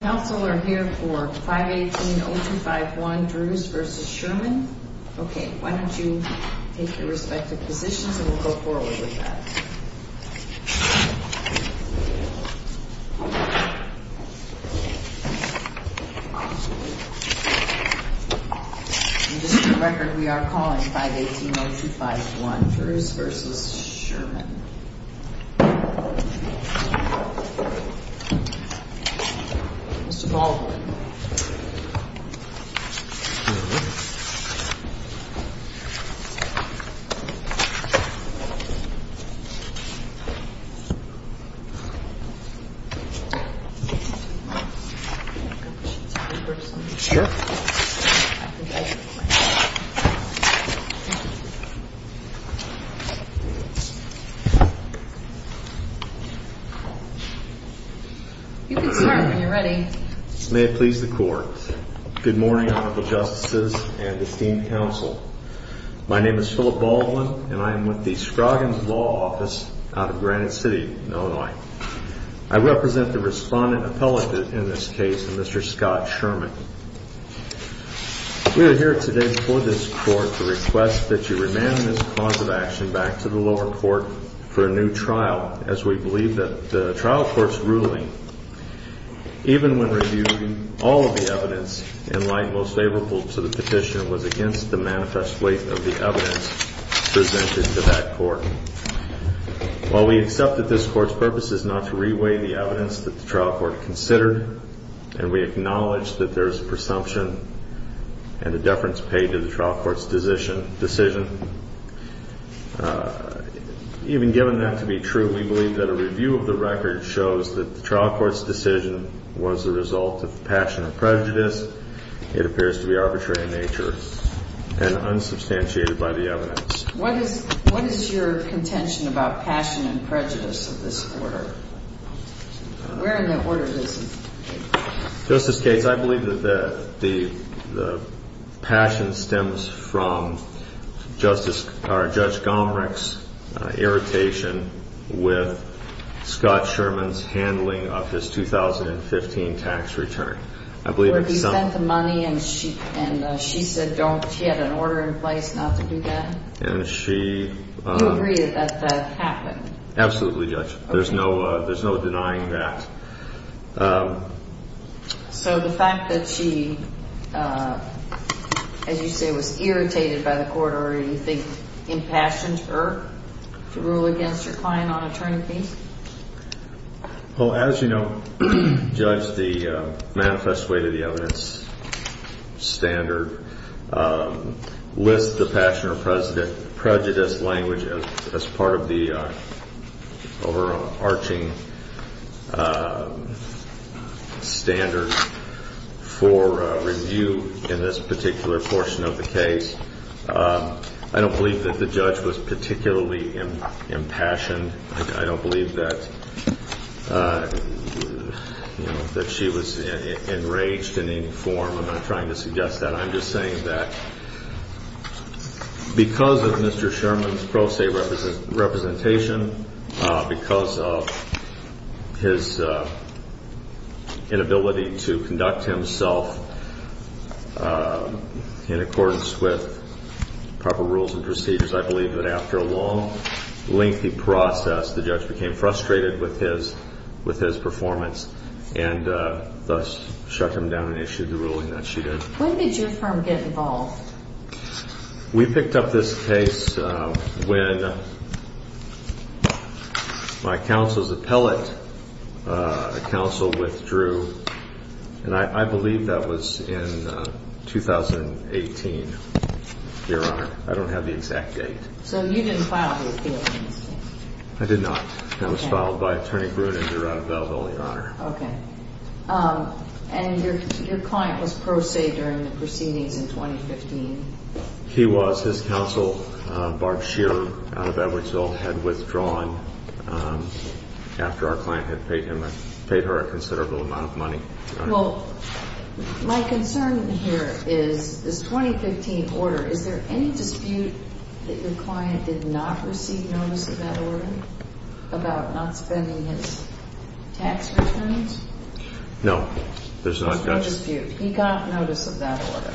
Council are here for 518.0251 Druse v. Schurman. Okay, why don't you take your respective positions and we'll go forward with that. And just for the record, we are calling 518.0251 Druse v. Schurman. Mr. Baldwin. May it please the Court. Good morning, Honorable Justices and esteemed Council. My name is Philip Baldwin and I am with the Scroggins Law Office out of Granite City, Illinois. I represent the respondent appellate in this case, Mr. Scott Schurman. We are here today before this Court to request that you remand this cause of action back to the lower court for a new trial, as we believe that the trial court's ruling, even when reviewing all of the evidence in light most favorable to the petition, was against the manifest weight of the evidence presented to that court. While we accept that this Court's purpose is not to reweigh the evidence that the trial court considered, and we acknowledge that there is presumption and a deference paid to the trial court's decision, even given that to be true, we believe that a review of the record shows that the trial court's decision was the result of passion and prejudice. It appears to be arbitrary in nature and unsubstantiated by the evidence. What is your contention about passion and prejudice of this order? Where in the order is it? Justice Gates, I believe that the passion stems from Judge Gomerich's irritation with Scott Schurman's handling of his 2015 tax return. Where he sent the money and she said she had an order in place not to do that? Do you agree that that happened? Absolutely, Judge. There's no denying that. So the fact that she, as you say, was irritated by the court order, do you think impassioned her to rule against her client on attorney fees? Well, as you know, Judge, the manifest weight of the evidence standard lists the passion or prejudice language as part of the overarching standard for review in this particular portion of the case. I don't believe that the judge was particularly impassioned. I don't believe that she was enraged in any form. I'm not trying to suggest that. I'm just saying that because of Mr. Schurman's pro se representation, because of his inability to conduct himself in accordance with proper rules and procedures, I believe that after a long lengthy process, the judge became frustrated with his performance and thus shut him down and issued the ruling that she did. When did your firm get involved? We picked up this case when my counsel's appellate counsel withdrew, and I believe that was in 2018, Your Honor. I don't have the exact date. So you didn't file the appeal? I did not. It was filed by Attorney Bruin and Your Honor. Okay. And your client was pro se during the proceedings in 2015? He was. His counsel, Barb Shearer out of Edwardsville, had withdrawn after our client had paid her a considerable amount of money. Well, my concern here is this 2015 order. Is there any dispute that your client did not receive notice of that order about not spending his tax returns? No, there's not. There's no dispute. He got notice of that order?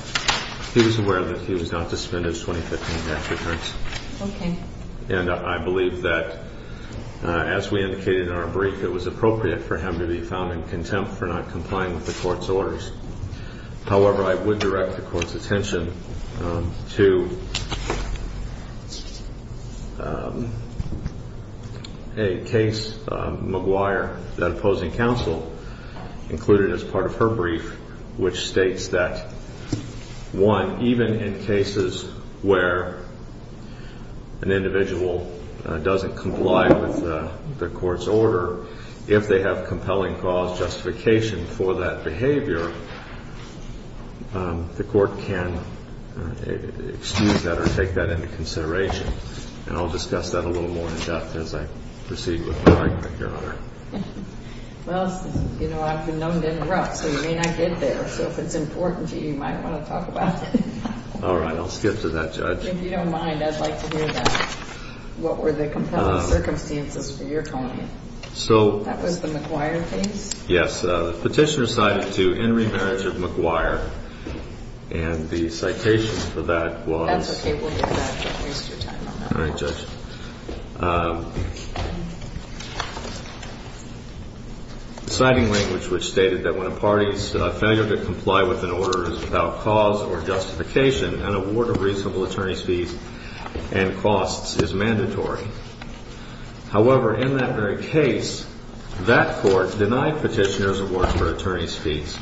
He was aware that he was not to spend his 2015 tax returns. Okay. And I believe that, as we indicated in our brief, it was appropriate for him to be found in contempt for not complying with the court's orders. However, I would direct the court's attention to a case, McGuire, that opposing counsel included as part of her brief, which states that, one, even in cases where an individual doesn't comply with the court's order, if they have compelling cause justification for that behavior, the court can excuse that or take that into consideration. And I'll discuss that a little more in depth as I proceed with my argument, Your Honor. Well, you know, I've been known to interrupt, so you may not get there. So if it's important to you, you might want to talk about it. All right. I'll skip to that, Judge. If you don't mind, I'd like to hear that. What were the compelling circumstances for your client? That was the McGuire case? Yes. The petitioner cited to in remarriage of McGuire. And the citation for that was... That's okay. We'll get back to that. Don't waste your time on that. All right, Judge. Citing language which stated that when a party's failure to comply with an order is without cause or justification, an award of reasonable attorney's fees and costs is mandatory. However, in that very case, that court denied petitioner's award for attorney's fees.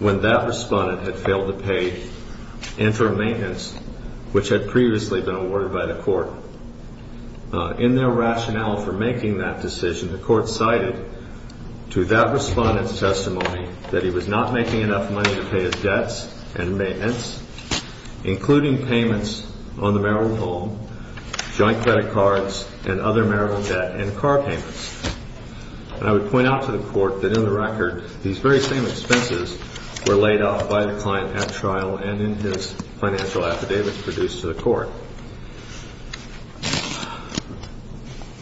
When that respondent had failed to pay interim maintenance, which had previously been awarded by the court, in their rationale for making that decision, the court cited to that respondent's testimony that he was not making enough money to pay his debts and maintenance, including payments on the marital home, joint credit cards, and other marital debt and car payments. And I would point out to the court that in the record, these very same expenses were laid off by the client at trial and in his financial affidavits produced to the court.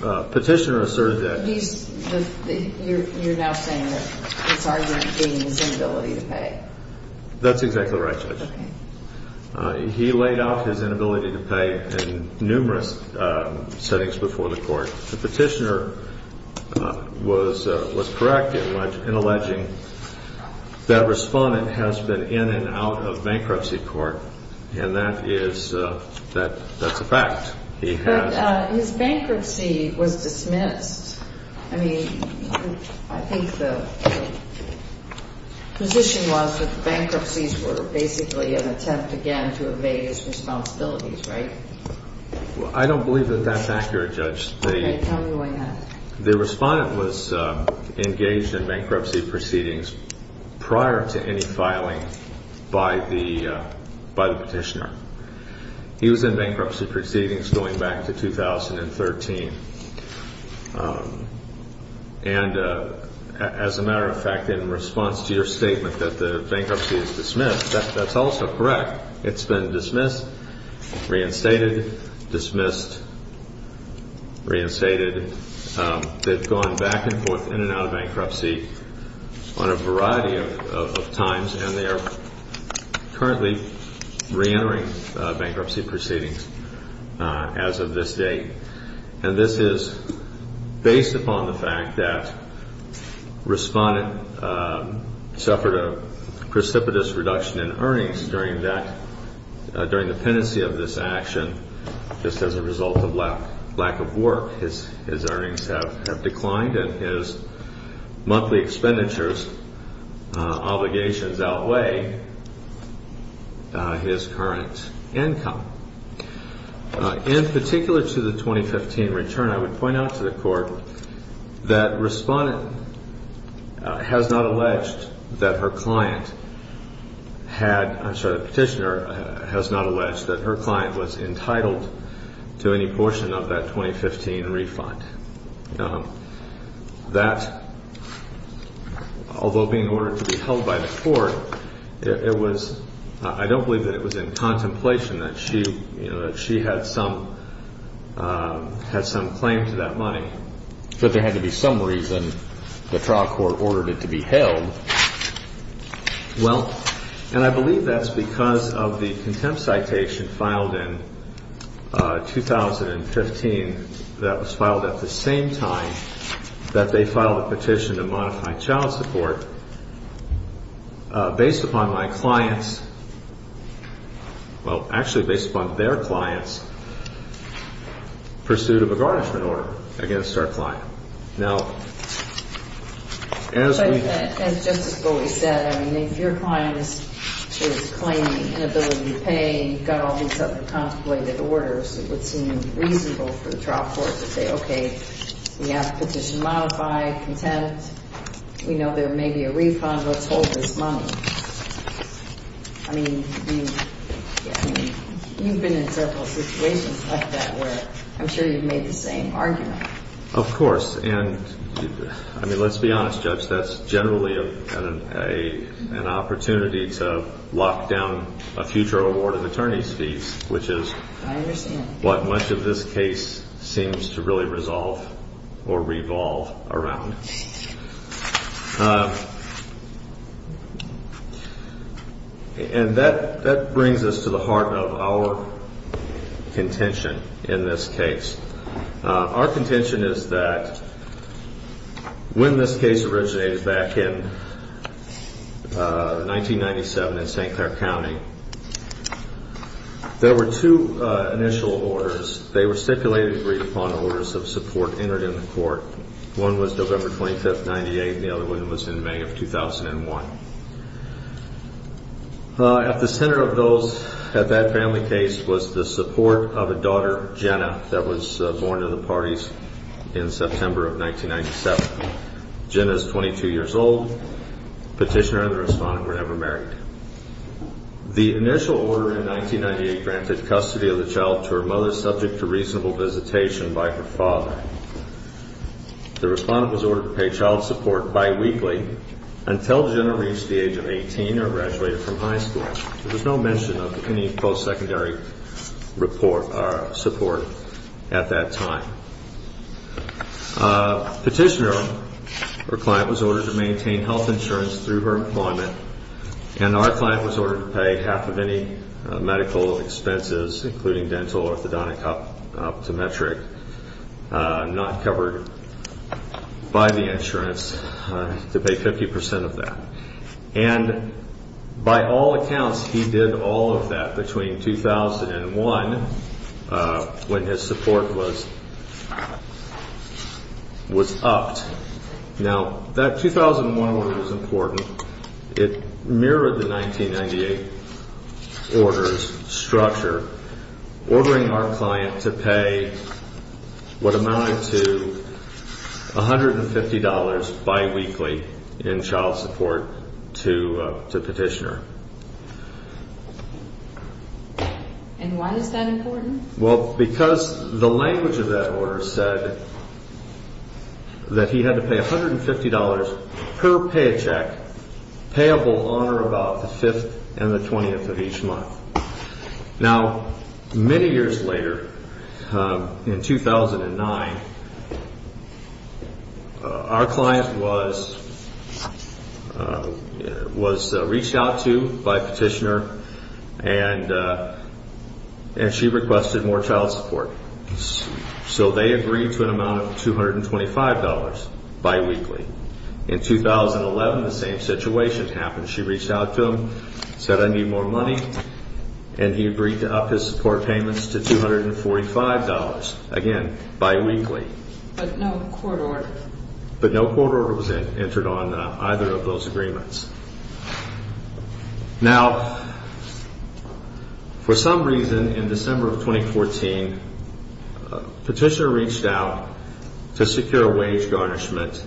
Petitioner asserted that... You're now saying that his argument being his inability to pay. That's exactly right, Judge. Okay. He laid off his inability to pay in numerous settings before the court. The petitioner was correct in alleging that respondent has been in and out of bankruptcy court, and that's a fact. But his bankruptcy was dismissed. I mean, I think the position was that the bankruptcies were basically an attempt again to evade his responsibilities, right? I don't believe that that's accurate, Judge. Okay. Tell me why not. The respondent was engaged in bankruptcy proceedings prior to any filing by the petitioner. He was in bankruptcy proceedings going back to 2013. And as a matter of fact, in response to your statement that the bankruptcy is dismissed, that's also correct. It's been dismissed, reinstated, dismissed, reinstated. They've gone back and forth in and out of bankruptcy on a variety of times, and they are currently reentering bankruptcy proceedings as of this date. And this is based upon the fact that respondent suffered a precipitous reduction in earnings during the pendency of this action. Just as a result of lack of work, his earnings have declined, and his monthly expenditures obligations outweigh his current income. In particular to the 2015 return, I would point out to the Court that respondent has not alleged that her client had – I'm sorry, the petitioner has not alleged that her client was entitled to any portion of that 2015 refund. That, although being ordered to be held by the Court, it was – I don't believe that it was in contemplation that she had some claim to that money. But there had to be some reason the trial court ordered it to be held. Well, and I believe that's because of the contempt citation filed in 2015 that was filed at the same time that they filed a petition to modify child support based upon my client's – well, actually based upon their client's pursuit of a garnishment order against our client. Now, as we – But as Justice Bowie said, I mean, if your client is claiming inability to pay and you've got all these other contemplated orders, it would seem reasonable for the trial court to say, okay, we have the petition modified, content, we know there may be a refund, let's hold this money. I mean, you've been in several situations like that where I'm sure you've made the same argument. Of course. And, I mean, let's be honest, Judge. That's generally an opportunity to lock down a future award of attorney's fees, which is what much of this case seems to really resolve or revolve around. And that brings us to the heart of our contention in this case. Our contention is that when this case originated back in 1997 in St. Clair County, there were two initial orders. They were stipulated to read upon orders of support entered in the court. One was November 25, 1998, and the other one was in May of 2001. At the center of that family case was the support of a daughter, Jenna, that was born to the parties in September of 1997. Jenna is 22 years old. Petitioner and the respondent were never married. The initial order in 1998 granted custody of the child to her mother, subject to reasonable visitation by her father. The respondent was ordered to pay child support biweekly until Jenna reached the age of 18 or graduated from high school. There was no mention of any post-secondary support at that time. Petitioner, her client, was ordered to maintain health insurance through her employment, and our client was ordered to pay half of any medical expenses, including dental, orthodontic, optometric. Not covered by the insurance, to pay 50% of that. And by all accounts, he did all of that between 2001 when his support was upped. Now, that 2001 order is important. It mirrored the 1998 order's structure, ordering our client to pay what amounted to $150 biweekly in child support to Petitioner. And why is that important? Well, because the language of that order said that he had to pay $150 per paycheck, payable on or about the 5th and the 20th of each month. Now, many years later, in 2009, our client was reached out to by Petitioner, and she requested more child support. So they agreed to an amount of $225 biweekly. In 2011, the same situation happened. She reached out to him, said, I need more money, and he agreed to up his support payments to $245, again, biweekly. But no court order. But no court order was entered on either of those agreements. Now, for some reason, in December of 2014, Petitioner reached out to secure wage garnishment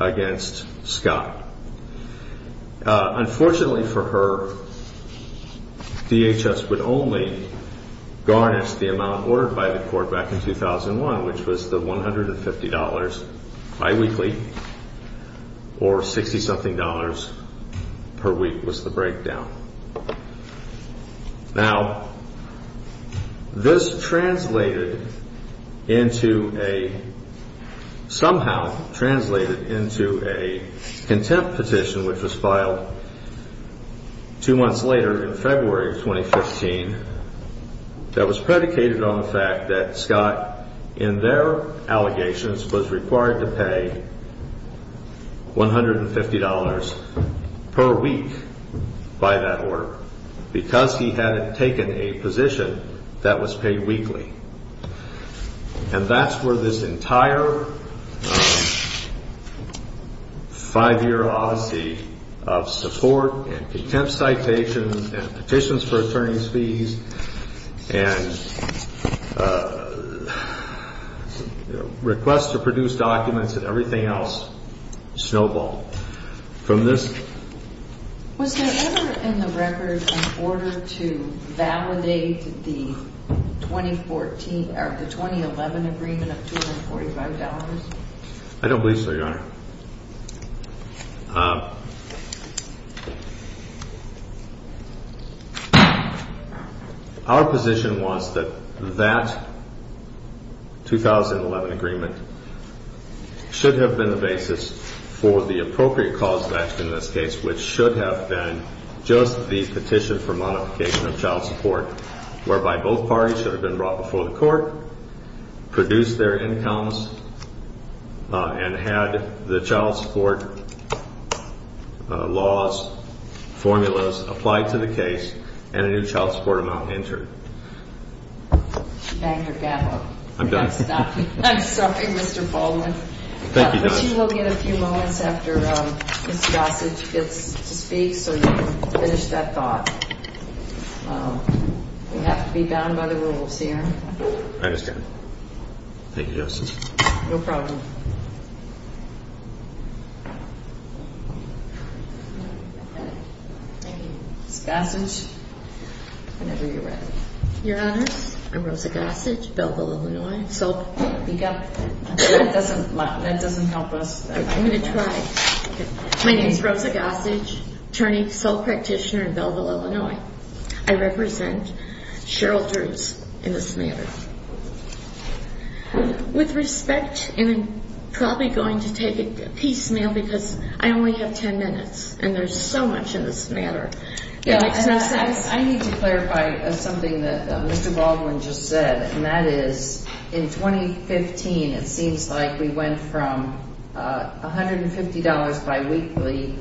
against Scott. Unfortunately for her, DHS would only garnish the amount ordered by the court back in 2001, which was the $150 biweekly, or $60-something per week was the breakdown. Now, this translated into a, somehow translated into a contempt petition, which was filed two months later in February of 2015, that was predicated on the fact that Scott, in their allegations, was required to pay $150 per week by that order, because he hadn't taken a position that was paid weekly. And that's where this entire five-year odyssey of support and contempt citations and petitions for attorney's fees and requests to produce documents and everything else snowballed from this. Was there ever in the record an order to validate the 2011 agreement of $245? I don't believe so, Your Honor. Our position was that that 2011 agreement should have been the basis for the appropriate cause of action in this case, which should have been just the petition for modification of child support, whereby both parties should have been brought before the court, produced their incomes, and had the child support laws, formulas, applied to the case, and a new child support amount entered. Thank you, Your Honor. I'm done. I'm sorry, Mr. Baldwin. Thank you, Judge. I bet you he'll get a few moments after Ms. Gossage gets to speak so you can finish that thought. We have to be bound by the rules here. I understand. Thank you, Justice. No problem. Ms. Gossage, whenever you're ready. That doesn't help us. I'm going to try. My name is Rosa Gossage, attorney, sole practitioner in Belleville, Illinois. I represent Cheryl Drews in this matter. With respect, and I'm probably going to take a piecemeal because I only have ten minutes, and there's so much in this matter. I need to clarify something that Mr. Baldwin just said, and that is in 2015 it seems like we went from $150 biweekly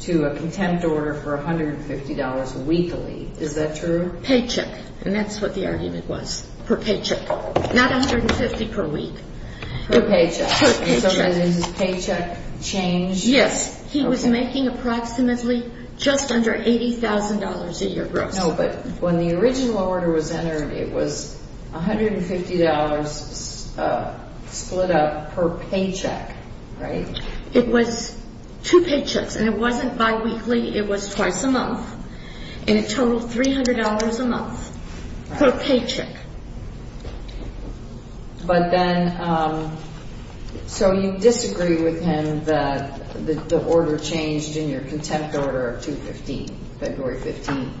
to a contempt order for $150 weekly. Is that true? Paycheck. And that's what the argument was, per paycheck. Not $150 per week. Per paycheck. Per paycheck. So has his paycheck changed? Yes. He was making approximately just under $80,000 a year gross. No, but when the original order was entered, it was $150 split up per paycheck, right? It was two paychecks, and it wasn't biweekly. It was twice a month, and it totaled $300 a month per paycheck. But then, so you disagree with him that the order changed in your contempt order of 2015, February 15th.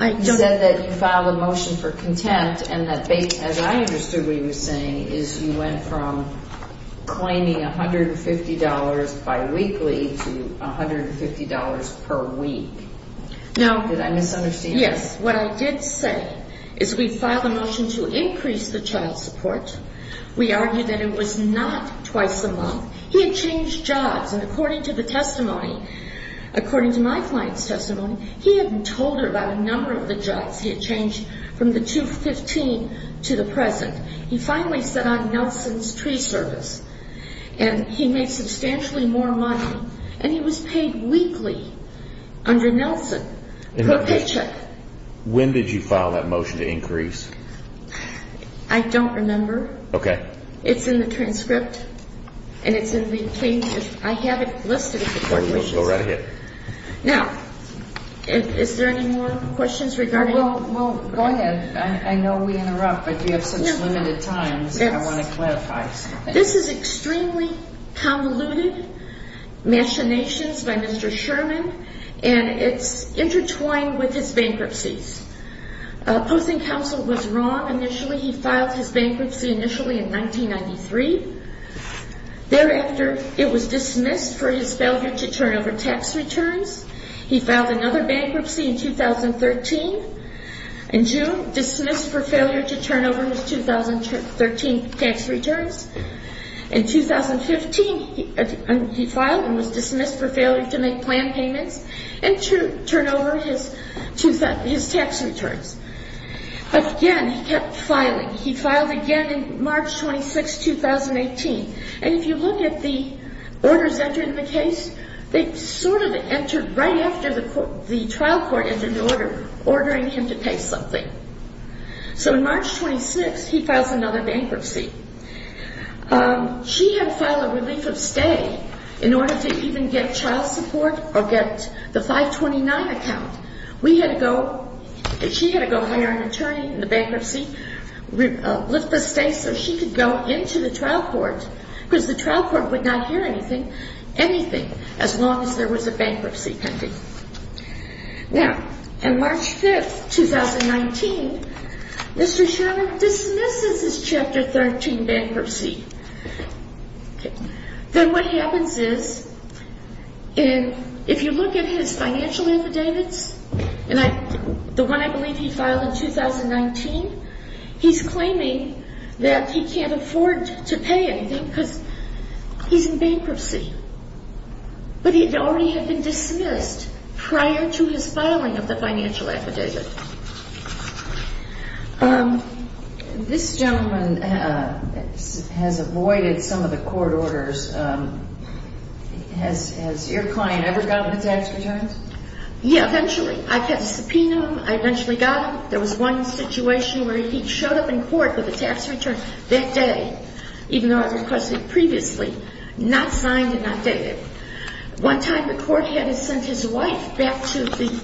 I don't. You said that you filed a motion for contempt and that, as I understood what you were saying, is you went from claiming $150 biweekly to $150 per week. Now. Did I misunderstand? Yes. What I did say is we filed a motion to increase the child support. We argued that it was not twice a month. He had changed jobs, and according to the testimony, according to my client's testimony, he hadn't told her about a number of the jobs he had changed from the 2015 to the present. He finally set on Nelson's tree service, and he made substantially more money, and he was paid weekly under Nelson per paycheck. When did you file that motion to increase? I don't remember. Okay. It's in the transcript, and it's in the case. I have it listed. Go right ahead. Now, is there any more questions regarding? Well, go ahead. I know we interrupt, but you have such limited time. I want to clarify something. This is extremely convoluted machinations by Mr. Sherman, and it's intertwined with his bankruptcies. Posting Council was wrong initially. He filed his bankruptcy initially in 1993. Thereafter, it was dismissed for his failure to turn over tax returns. He filed another bankruptcy in 2013 in June, dismissed for failure to turn over his 2013 tax returns. In 2015, he filed and was dismissed for failure to make plan payments and to turn over his tax returns. Again, he kept filing. He filed again in March 26, 2018. And if you look at the orders entered in the case, they sort of entered right after the trial court entered the order, ordering him to pay something. So in March 26, he files another bankruptcy. She had filed a relief of stay in order to even get child support or get the 529 account. She had to go hire an attorney in the bankruptcy, lift the stay so she could go into the trial court because the trial court would not hear anything, anything as long as there was a bankruptcy pending. Now, on March 5, 2019, Mr. Sherman dismisses his Chapter 13 bankruptcy. Then what happens is if you look at his financial affidavits, the one I believe he filed in 2019, he's claiming that he can't afford to pay anything because he's in bankruptcy. But it already had been dismissed prior to his filing of the financial affidavit. This gentleman has avoided some of the court orders. Has your client ever gotten his tax returns? Yeah, eventually. I subpoenaed him. I eventually got him. There was one situation where he showed up in court with a tax return that day, even though I requested previously, not signed and not dated. One time the court had sent his wife back to the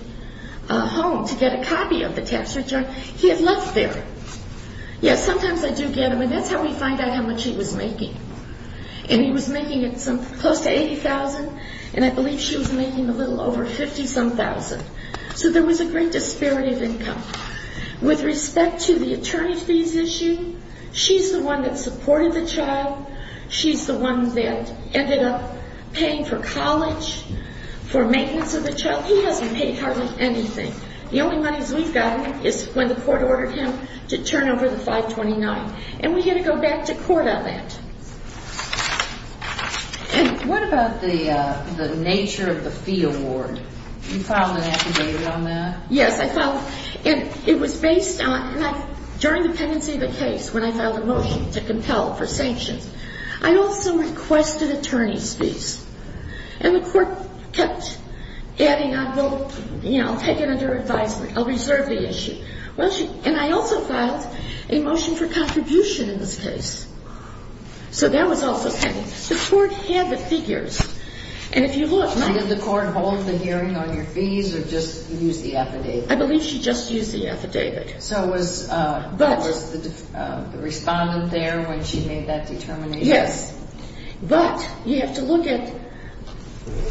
home to get a copy of the tax return. He had left there. Yes, sometimes I do get him, and that's how we find out how much he was making. And he was making close to $80,000, and I believe she was making a little over $50,000. So there was a great disparity of income. With respect to the attorney fees issue, she's the one that supported the child. She's the one that ended up paying for college, for maintenance of the child. He hasn't paid hardly anything. The only money we've got is when the court ordered him to turn over the 529, and we had to go back to court on that. What about the nature of the fee award? You filed an affidavit on that? Yes, I filed. And it was based on, during the pendency of the case, when I filed a motion to compel for sanctions, I also requested attorney's fees. And the court kept adding, I'll take it under advisement, I'll reserve the issue. And I also filed a motion for contribution in this case. So that was also pending. The court had the figures. And if you look... Did the court hold the hearing on your fees or just use the affidavit? I believe she just used the affidavit. So was the respondent there when she made that determination? Yes. But you have to look at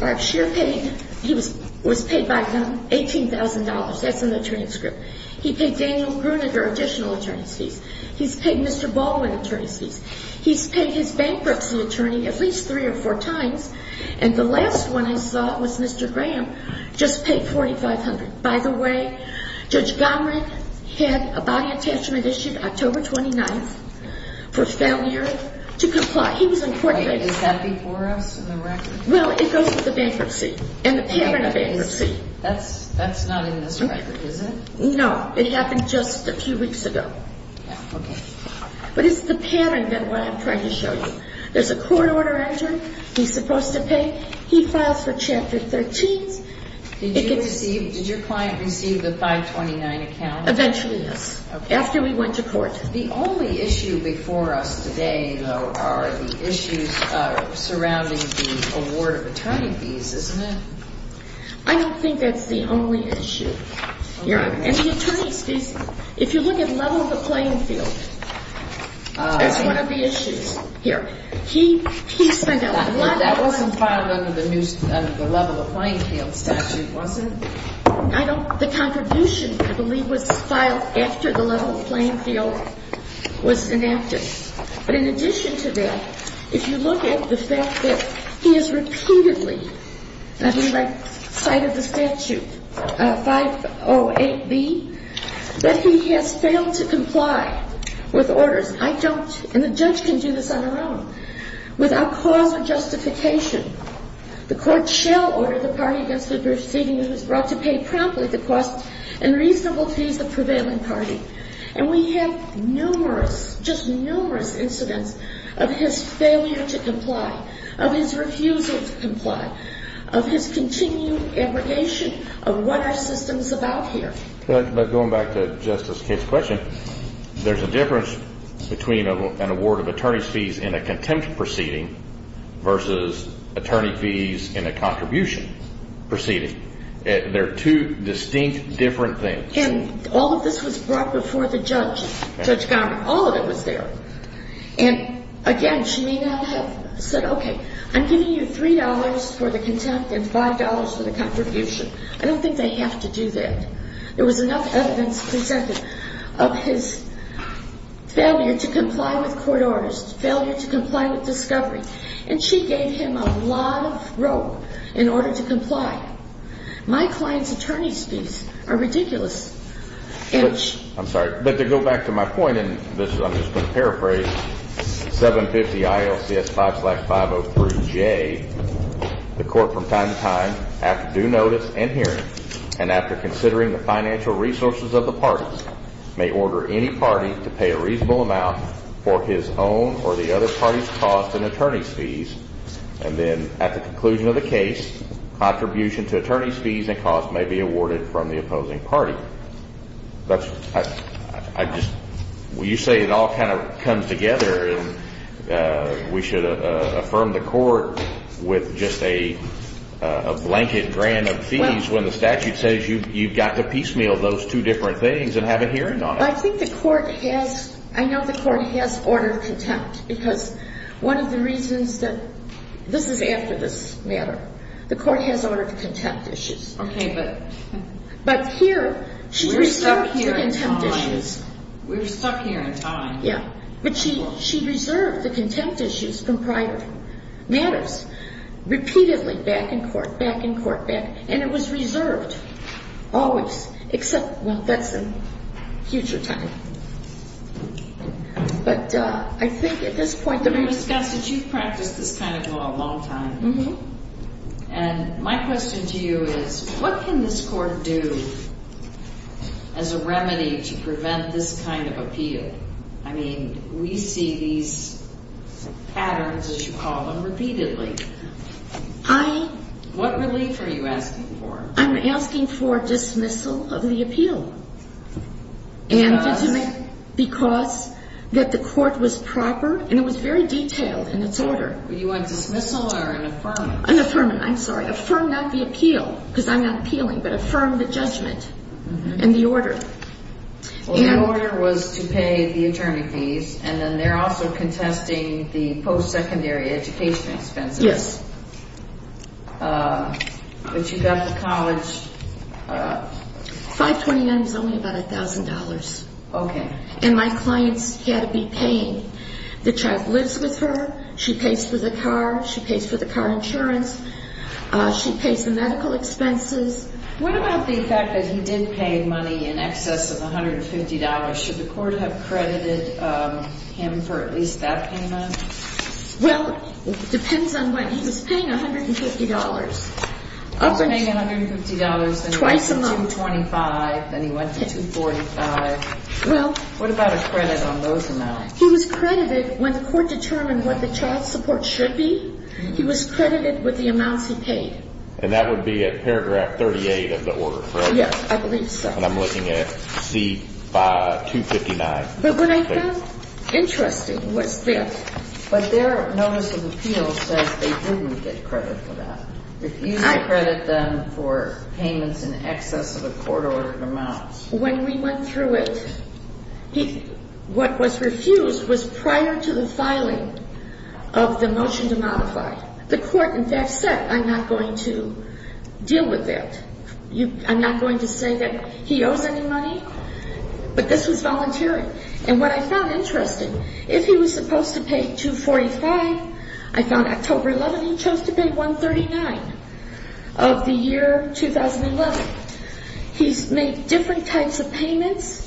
our sheer pain. He was paid by whom? $18,000. That's in the transcript. He paid Daniel Gruninger additional attorney's fees. He's paid Mr. Baldwin attorney's fees. He's paid his bankruptcy attorney at least three or four times. And the last one I saw was Mr. Graham, just paid $4,500. By the way, Judge Gomrick had a body attachment issued October 29th for failure to comply. He was in court that day. Is that before us in the record? Well, it goes with the bankruptcy and the payment of bankruptcy. That's not in this record, is it? No, it happened just a few weeks ago. Okay. But it's the pattern that I'm trying to show you. There's a court order entered. He's supposed to pay. He files for Chapter 13. Did your client receive the 529 account? Eventually, yes, after we went to court. The only issue before us today, though, are the issues surrounding the award of attorney fees, isn't it? I don't think that's the only issue. And the attorney's fees, if you look at level of the playing field, that's one of the issues here. He spent a lot of money. That wasn't filed under the level of playing field statute, was it? The contribution, I believe, was filed after the level of playing field was enacted. But in addition to that, if you look at the fact that he has repeatedly, I believe I cited the statute, 508B, that he has failed to comply with orders. I don't, and the judge can do this on her own, without cause or justification. The court shall order the party against the proceeding who is brought to pay promptly the cost and reasonable fees of prevailing party. And we have numerous, just numerous incidents of his failure to comply, of his refusal to comply, of his continued abrogation of what our system is about here. But going back to Justice Kitt's question, there's a difference between an award of attorney's fees in a contempt proceeding versus attorney fees in a contribution proceeding. They're two distinct, different things. And all of this was brought before the judge, Judge Gomer. All of it was there. And again, she may not have said, okay, I'm giving you $3 for the contempt and $5 for the contribution. I don't think they have to do that. There was enough evidence presented of his failure to comply with court orders, failure to comply with discovery. And she gave him a lot of rope in order to comply. My client's attorney's fees are ridiculous. I'm sorry. But to go back to my point, and I'm just going to paraphrase, 750 ILCS 5503J, the court from time to time, after due notice and hearing, and after considering the financial resources of the parties, may order any party to pay a reasonable amount for his own or the other party's cost and attorney's fees, and then at the conclusion of the case, contribution to attorney's fees and costs may be awarded from the opposing party. That's, I just, you say it all kind of comes together, and we should affirm the court with just a blanket grant of fees when the statute says you've got to piecemeal those two different things and have a hearing on it. I think the court has, I know the court has ordered contempt, because one of the reasons that, this is after this matter, the court has ordered contempt issues. Okay, but. But here, she reserved the contempt issues. We're stuck here in time. We're stuck here in time. Yeah, but she reserved the contempt issues from prior matters, repeatedly back in court, back in court, back, and it was reserved always, except, well, that's in future time. But I think at this point that we've discussed that you've practiced this kind of law a long time. Mm-hmm. And my question to you is, what can this court do as a remedy to prevent this kind of appeal? I mean, we see these patterns, as you call them, repeatedly. I. What relief are you asking for? I'm asking for dismissal of the appeal. Because? Because that the court was proper, and it was very detailed in its order. You want dismissal or an affirmant? An affirmant, I'm sorry. Affirm not the appeal, because I'm not appealing, but affirm the judgment and the order. Well, the order was to pay the attorney fees, and then they're also contesting the post-secondary education expenses. Yes. But you got the college. $529 is only about $1,000. Okay. And my clients had to be paying. The child lives with her. She pays for the car. She pays for the car insurance. She pays the medical expenses. What about the fact that he did pay money in excess of $150? Should the court have credited him for at least that payment? Well, it depends on what he was paying, $150. He was paying $150, then he went to $225, then he went to $245. What about a credit on those amounts? He was credited when the court determined what the child support should be. He was credited with the amounts he paid. And that would be at paragraph 38 of the order, correct? Yes, I believe so. And I'm looking at C259. But what I found interesting was this. But their notice of appeal says they didn't get credit for that, refused to credit them for payments in excess of a court-ordered amount. When we went through it, what was refused was prior to the filing of the motion to modify. The court, in fact, said, I'm not going to deal with that. I'm not going to say that he owes any money. But this was volunteering. And what I found interesting, if he was supposed to pay $245, I found October 11 he chose to pay $139 of the year 2011. He's made different types of payments.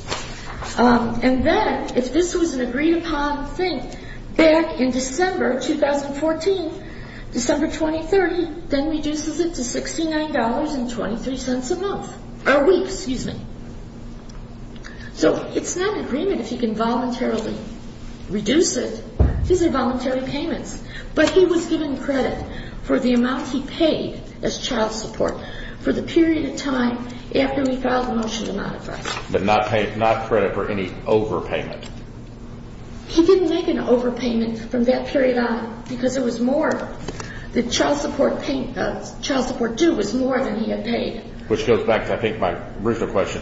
And then, if this was an agreed-upon thing, back in December 2014, December 2030, then reduces it to $69.23 a month, or a week, excuse me. So it's not an agreement if he can voluntarily reduce it. These are voluntary payments. But he was given credit for the amount he paid as child support for the period of time after we filed the motion to modify. But not credit for any overpayment. He didn't make an overpayment from that period on because there was more. The child support due was more than he had paid. Which goes back to, I think, my original question.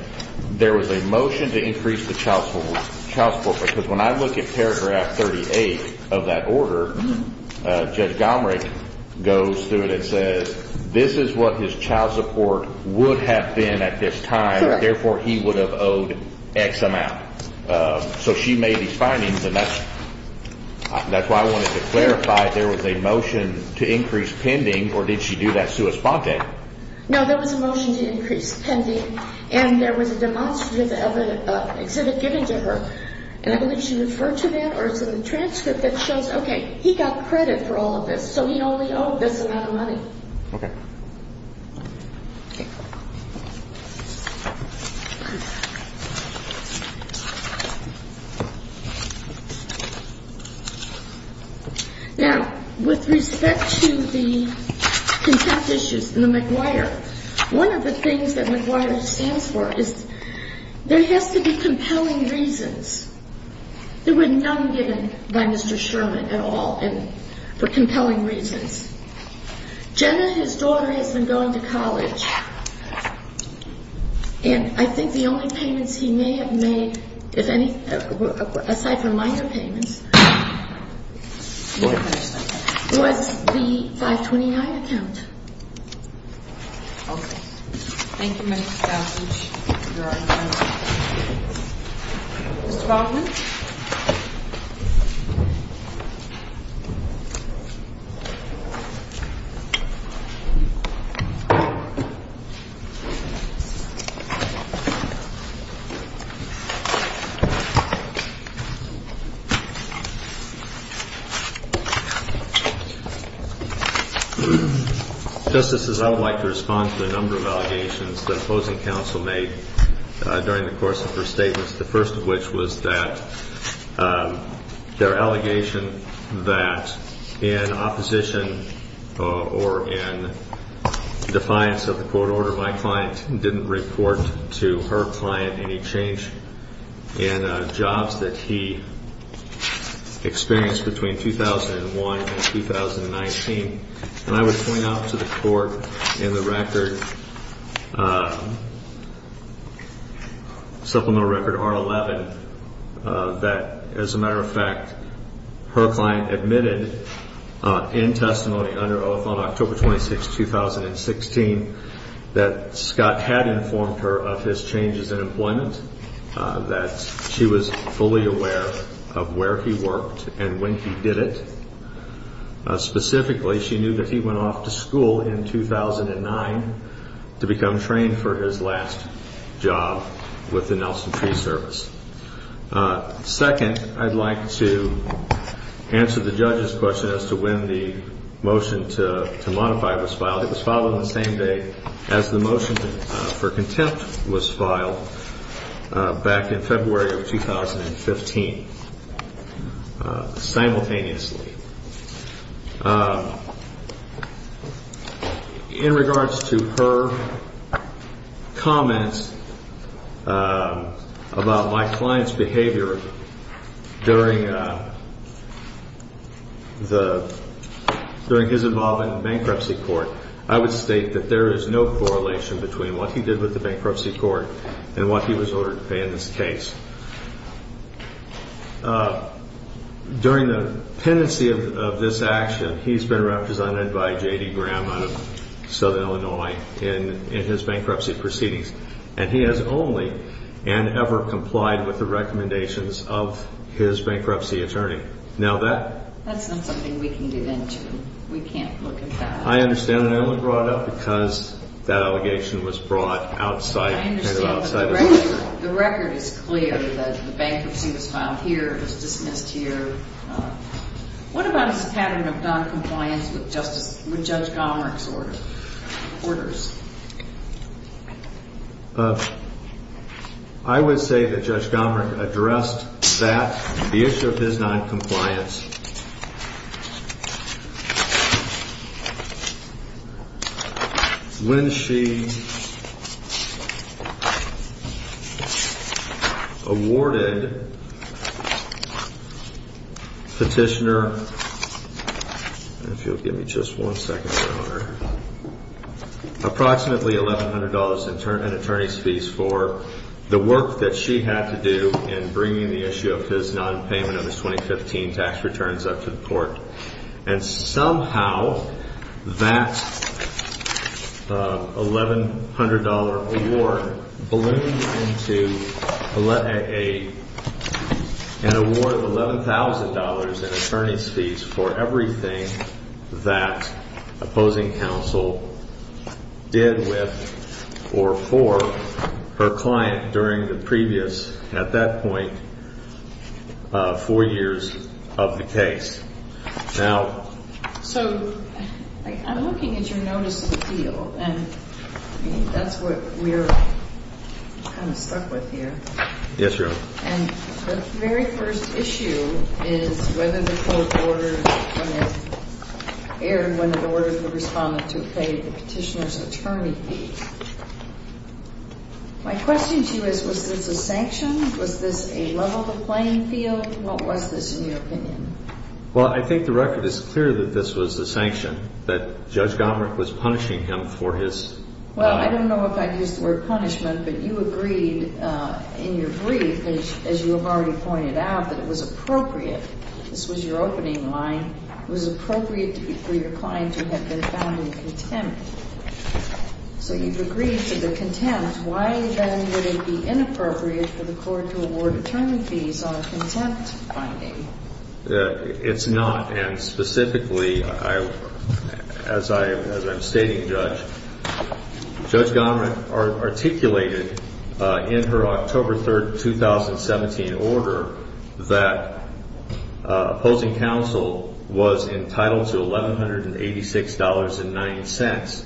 There was a motion to increase the child support. Because when I look at paragraph 38 of that order, Judge Gomrich goes through it and says this is what his child support would have been at this time. Therefore, he would have owed X amount. So she made these findings, and that's why I wanted to clarify. There was a motion to increase pending, or did she do that sui sponte? No, there was a motion to increase pending. And there was a demonstration of an exhibit given to her. And I believe she referred to that, or it's in the transcript that shows, okay, he got credit for all of this, so he only owed this amount of money. Okay. Okay. Now, with respect to the contempt issues in the McGuire, one of the things that McGuire stands for is there has to be compelling reasons. There were none given by Mr. Sherman at all for compelling reasons. Jenna, his daughter, has been going to college. And I think the only payments he may have made, aside from minor payments, was the 529 account. Okay. Thank you, Ms. Kovach. Ms. Kovach, you are adjourned. Thank you. Justices, I would like to respond to a number of allegations that opposing counsel made during the course of her statements, the first of which was that their allegation that in opposition or in defiance of the court order, my client didn't report to her client any change in jobs that he experienced between 2001 and 2019. And I would point out to the court in the record, supplemental record R11, that as a matter of fact, her client admitted in testimony under oath on October 26, 2016, that Scott had informed her of his changes in employment, that she was fully aware of where he worked and when he did it. Specifically, she knew that he went off to school in 2009 to become trained for his last job with the Nelson Tree Service. Second, I'd like to answer the judge's question as to when the motion to modify was filed. It was filed on the same day as the motion for contempt was filed, back in February of 2015, simultaneously. In regards to her comments about my client's behavior during his involvement in bankruptcy court, I would state that there is no correlation between what he did with the bankruptcy court and what he was ordered to pay in this case. During the pendency of this action, he's been represented by J.D. Graham out of Southern Illinois in his bankruptcy proceedings. And he has only and ever complied with the recommendations of his bankruptcy attorney. Now that... That's not something we can get into. We can't look at that. I understand that it was brought up because that allegation was brought outside... I understand, but the record is clear that the bankruptcy was filed here, was dismissed here. What about his pattern of noncompliance with Judge Gomerich's orders? I would say that Judge Gomerich addressed that, the issue of his noncompliance, when she awarded Petitioner, if you'll give me just one second, Your Honor, approximately $1,100 in attorney's fees for the work that she had to do in bringing the issue of his nonpayment of his 2015 tax returns up to the court. And somehow that $1,100 award ballooned into an award of $11,000 in attorney's fees for everything that opposing counsel did with or for her client during the previous... at that point, four years of the case. Now... So I'm looking at your notice of appeal, and I think that's what we're kind of stuck with here. Yes, Your Honor. And the very first issue is whether the court ordered when it... aired when it ordered the respondent to pay the Petitioner's attorney fee. My question to you is, was this a sanction? Was this a level of playing field? What was this, in your opinion? Well, I think the record is clear that this was a sanction, that Judge Gomerich was punishing him for his... Well, I don't know if I'd use the word punishment, but you agreed in your brief, as you have already pointed out, that it was appropriate. This was your opening line. It was appropriate for your client to have been found in contempt. So you've agreed to the contempt. Why, then, would it be inappropriate for the court to award attorney fees on a contempt finding? It's not. And specifically, as I'm stating, Judge, Judge Gomerich articulated in her October 3, 2017, order that opposing counsel was entitled to $1,186.90...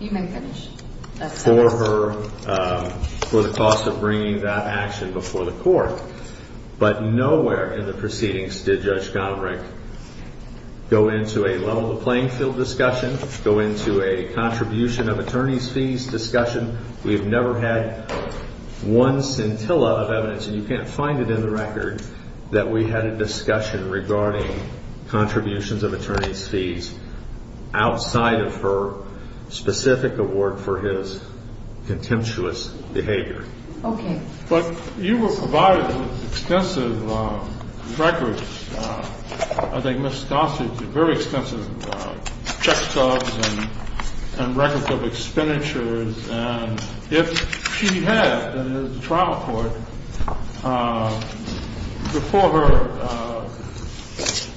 You may finish. ...for her, for the cost of bringing that action before the court. But nowhere in the proceedings did Judge Gomerich go into a level of playing field discussion, go into a contribution of attorney fees discussion. We've never had one scintilla of evidence, and you can't find it in the record, that we had a discussion regarding contributions of attorney fees outside of her specific award for his contemptuous behavior. Okay. But you were providing extensive records. I think Ms. Gossage did very extensive check subs and records of expenditures. And if she had, as a trial court, before her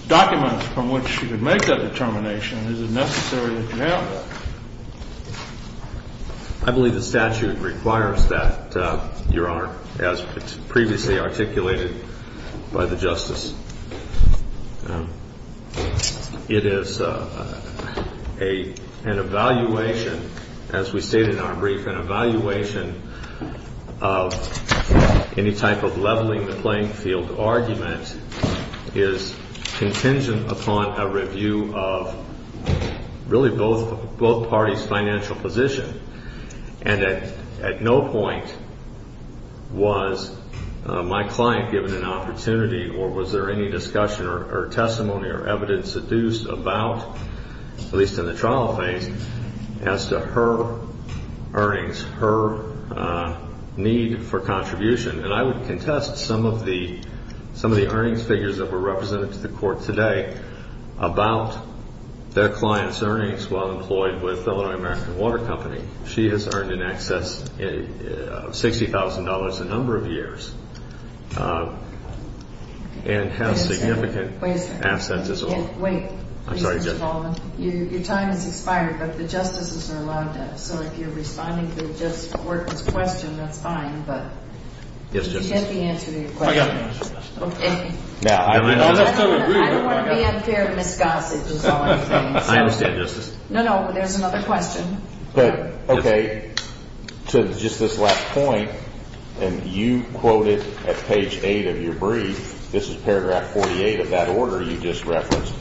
documents from which she could make that determination, is it necessary that you have that? As previously articulated by the Justice, it is an evaluation, as we stated in our brief, an evaluation of any type of leveling the playing field argument is contingent upon a review of really both parties' financial position. And at no point was my client given an opportunity or was there any discussion or testimony or evidence seduced about, at least in the trial phase, as to her earnings, her need for contribution. And I would contest some of the earnings figures that were represented to the court today about their client's earnings while employed with the Illinois American Water Company. She has earned in excess of $60,000 a number of years and has significant assets as well. Wait. I'm sorry, Judge. Your time has expired, but the justices are allowed to. So if you're responding to the court's question, that's fine. But you get the answer to your question. Okay. I don't want to be unfair to Ms. Gossage is all I'm saying. I understand, Justice. No, no. There's another question. Okay. To just this last point, and you quoted at page 8 of your brief, this is paragraph 48 of that order you just referenced,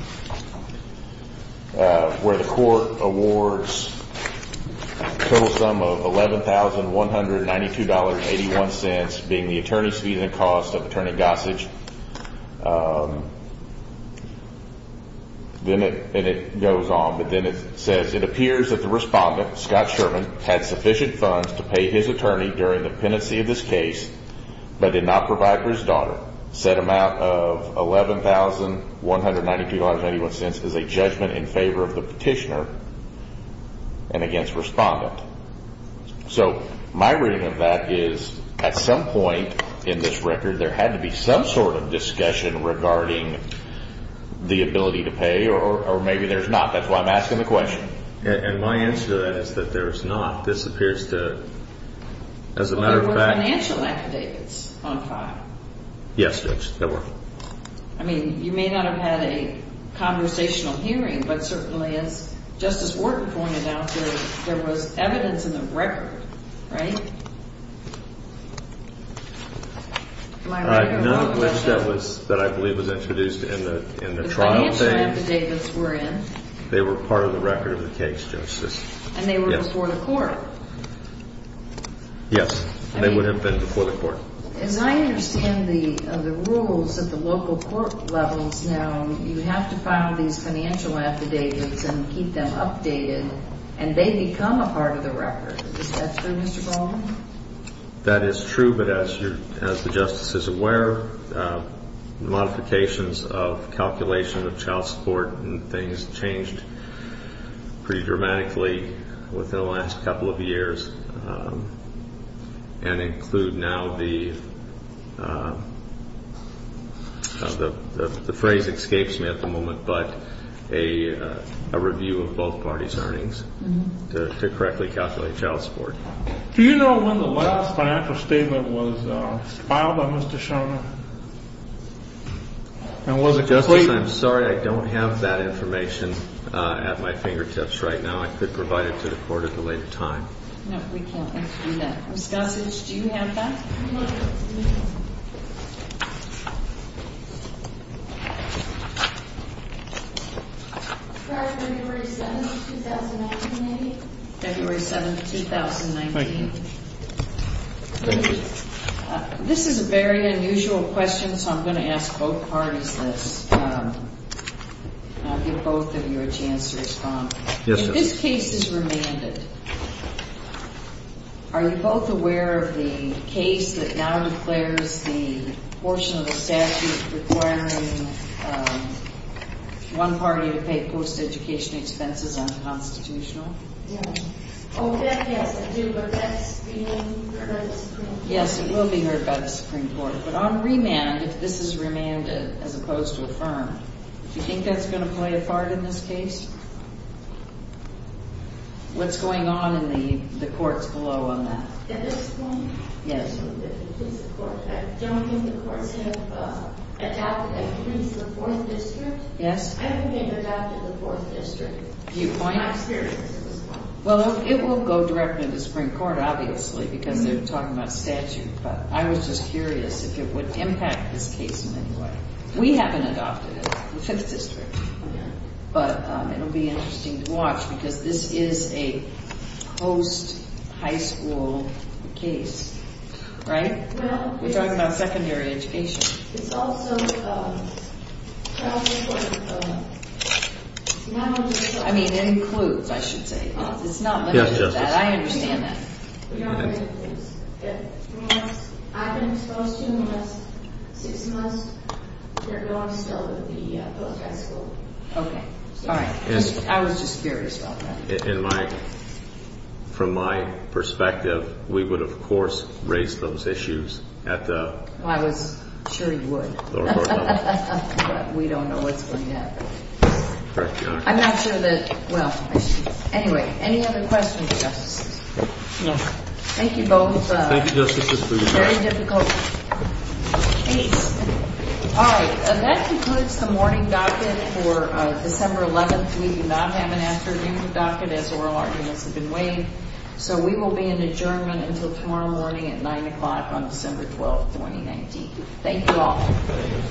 where the court awards a total sum of $11,192.81 being the attorney's fees and cost of Attorney Gossage. And it goes on, but then it says, It appears that the respondent, Scott Sherman, had sufficient funds to pay his attorney during the pendency of this case, but did not provide for his daughter. Said amount of $11,192.81 is a judgment in favor of the petitioner and against respondent. So my reading of that is, at some point in this record, there had to be some sort of discussion regarding the ability to pay, or maybe there's not. That's why I'm asking the question. And my answer to that is that there is not. This appears to, as a matter of fact. There were financial affidavits on file. Yes, there were. I mean, you may not have had a conversational hearing, but certainly as Justice Wharton pointed out, there was evidence in the record, right? None of which that I believe was introduced in the trial. The financial affidavits were in. They were part of the record of the case, Justice. And they were before the court. Yes. They would have been before the court. As I understand the rules at the local court levels now, you have to file these financial affidavits and keep them updated, and they become a part of the record. Is that true, Mr. Goldman? That is true. But as the Justice is aware, the modifications of calculation of child support and things changed pretty dramatically within the last couple of years, and include now the phrase escapes me at the moment, but a review of both parties' earnings to correctly calculate child support. Do you know when the last financial statement was filed by Mr. Shona? Justice, I'm sorry. I don't have that information at my fingertips right now. I could provide it to the court at a later time. No, we can't let you do that. Ms. Gossage, do you have that? No. February 7th, 2019, maybe? February 7th, 2019. Thank you. This is a very unusual question, so I'm going to ask both parties this. I'll give both of you a chance to respond. Yes, Justice. If this case is remanded, are you both aware of the case that now declares the portion of the statute requiring one party to pay post-education expenses unconstitutional? Yes. Oh, that, yes, I do, but that's being heard by the Supreme Court. Yes, it will be heard by the Supreme Court. But on remand, if this is remanded as opposed to affirmed, do you think that's going to play a part in this case? What's going on in the courts below on that? At this point? Yes. I don't think the courts have adopted a case in the Fourth District. Yes. I haven't been adopted in the Fourth District. Do you point? I'm serious at this point. Well, it will go directly to the Supreme Court, obviously, because they're talking about statute. But I was just curious if it would impact this case in any way. We haven't adopted it in the Fifth District, but it will be interesting to watch because this is a post-high school case. Right? We're talking about secondary education. It's also not on the Supreme Court. I mean, it includes, I should say. It's not limited to that. I understand that. I've been exposed to them the last six months. They're going still to the post-high school. Okay. All right. I was just curious about that. From my perspective, we would, of course, raise those issues at the... Well, I was sure he would. But we don't know what's going to happen. I'm not sure that... Well, anyway, any other questions, Justices? No. Thank you both. Thank you, Justices, for your time. Very difficult case. All right. That concludes the morning docket for December 11th. We do not have an afternoon docket as oral arguments have been weighed. So we will be in adjournment until tomorrow morning at 9 o'clock on December 12th, 2019. Thank you all.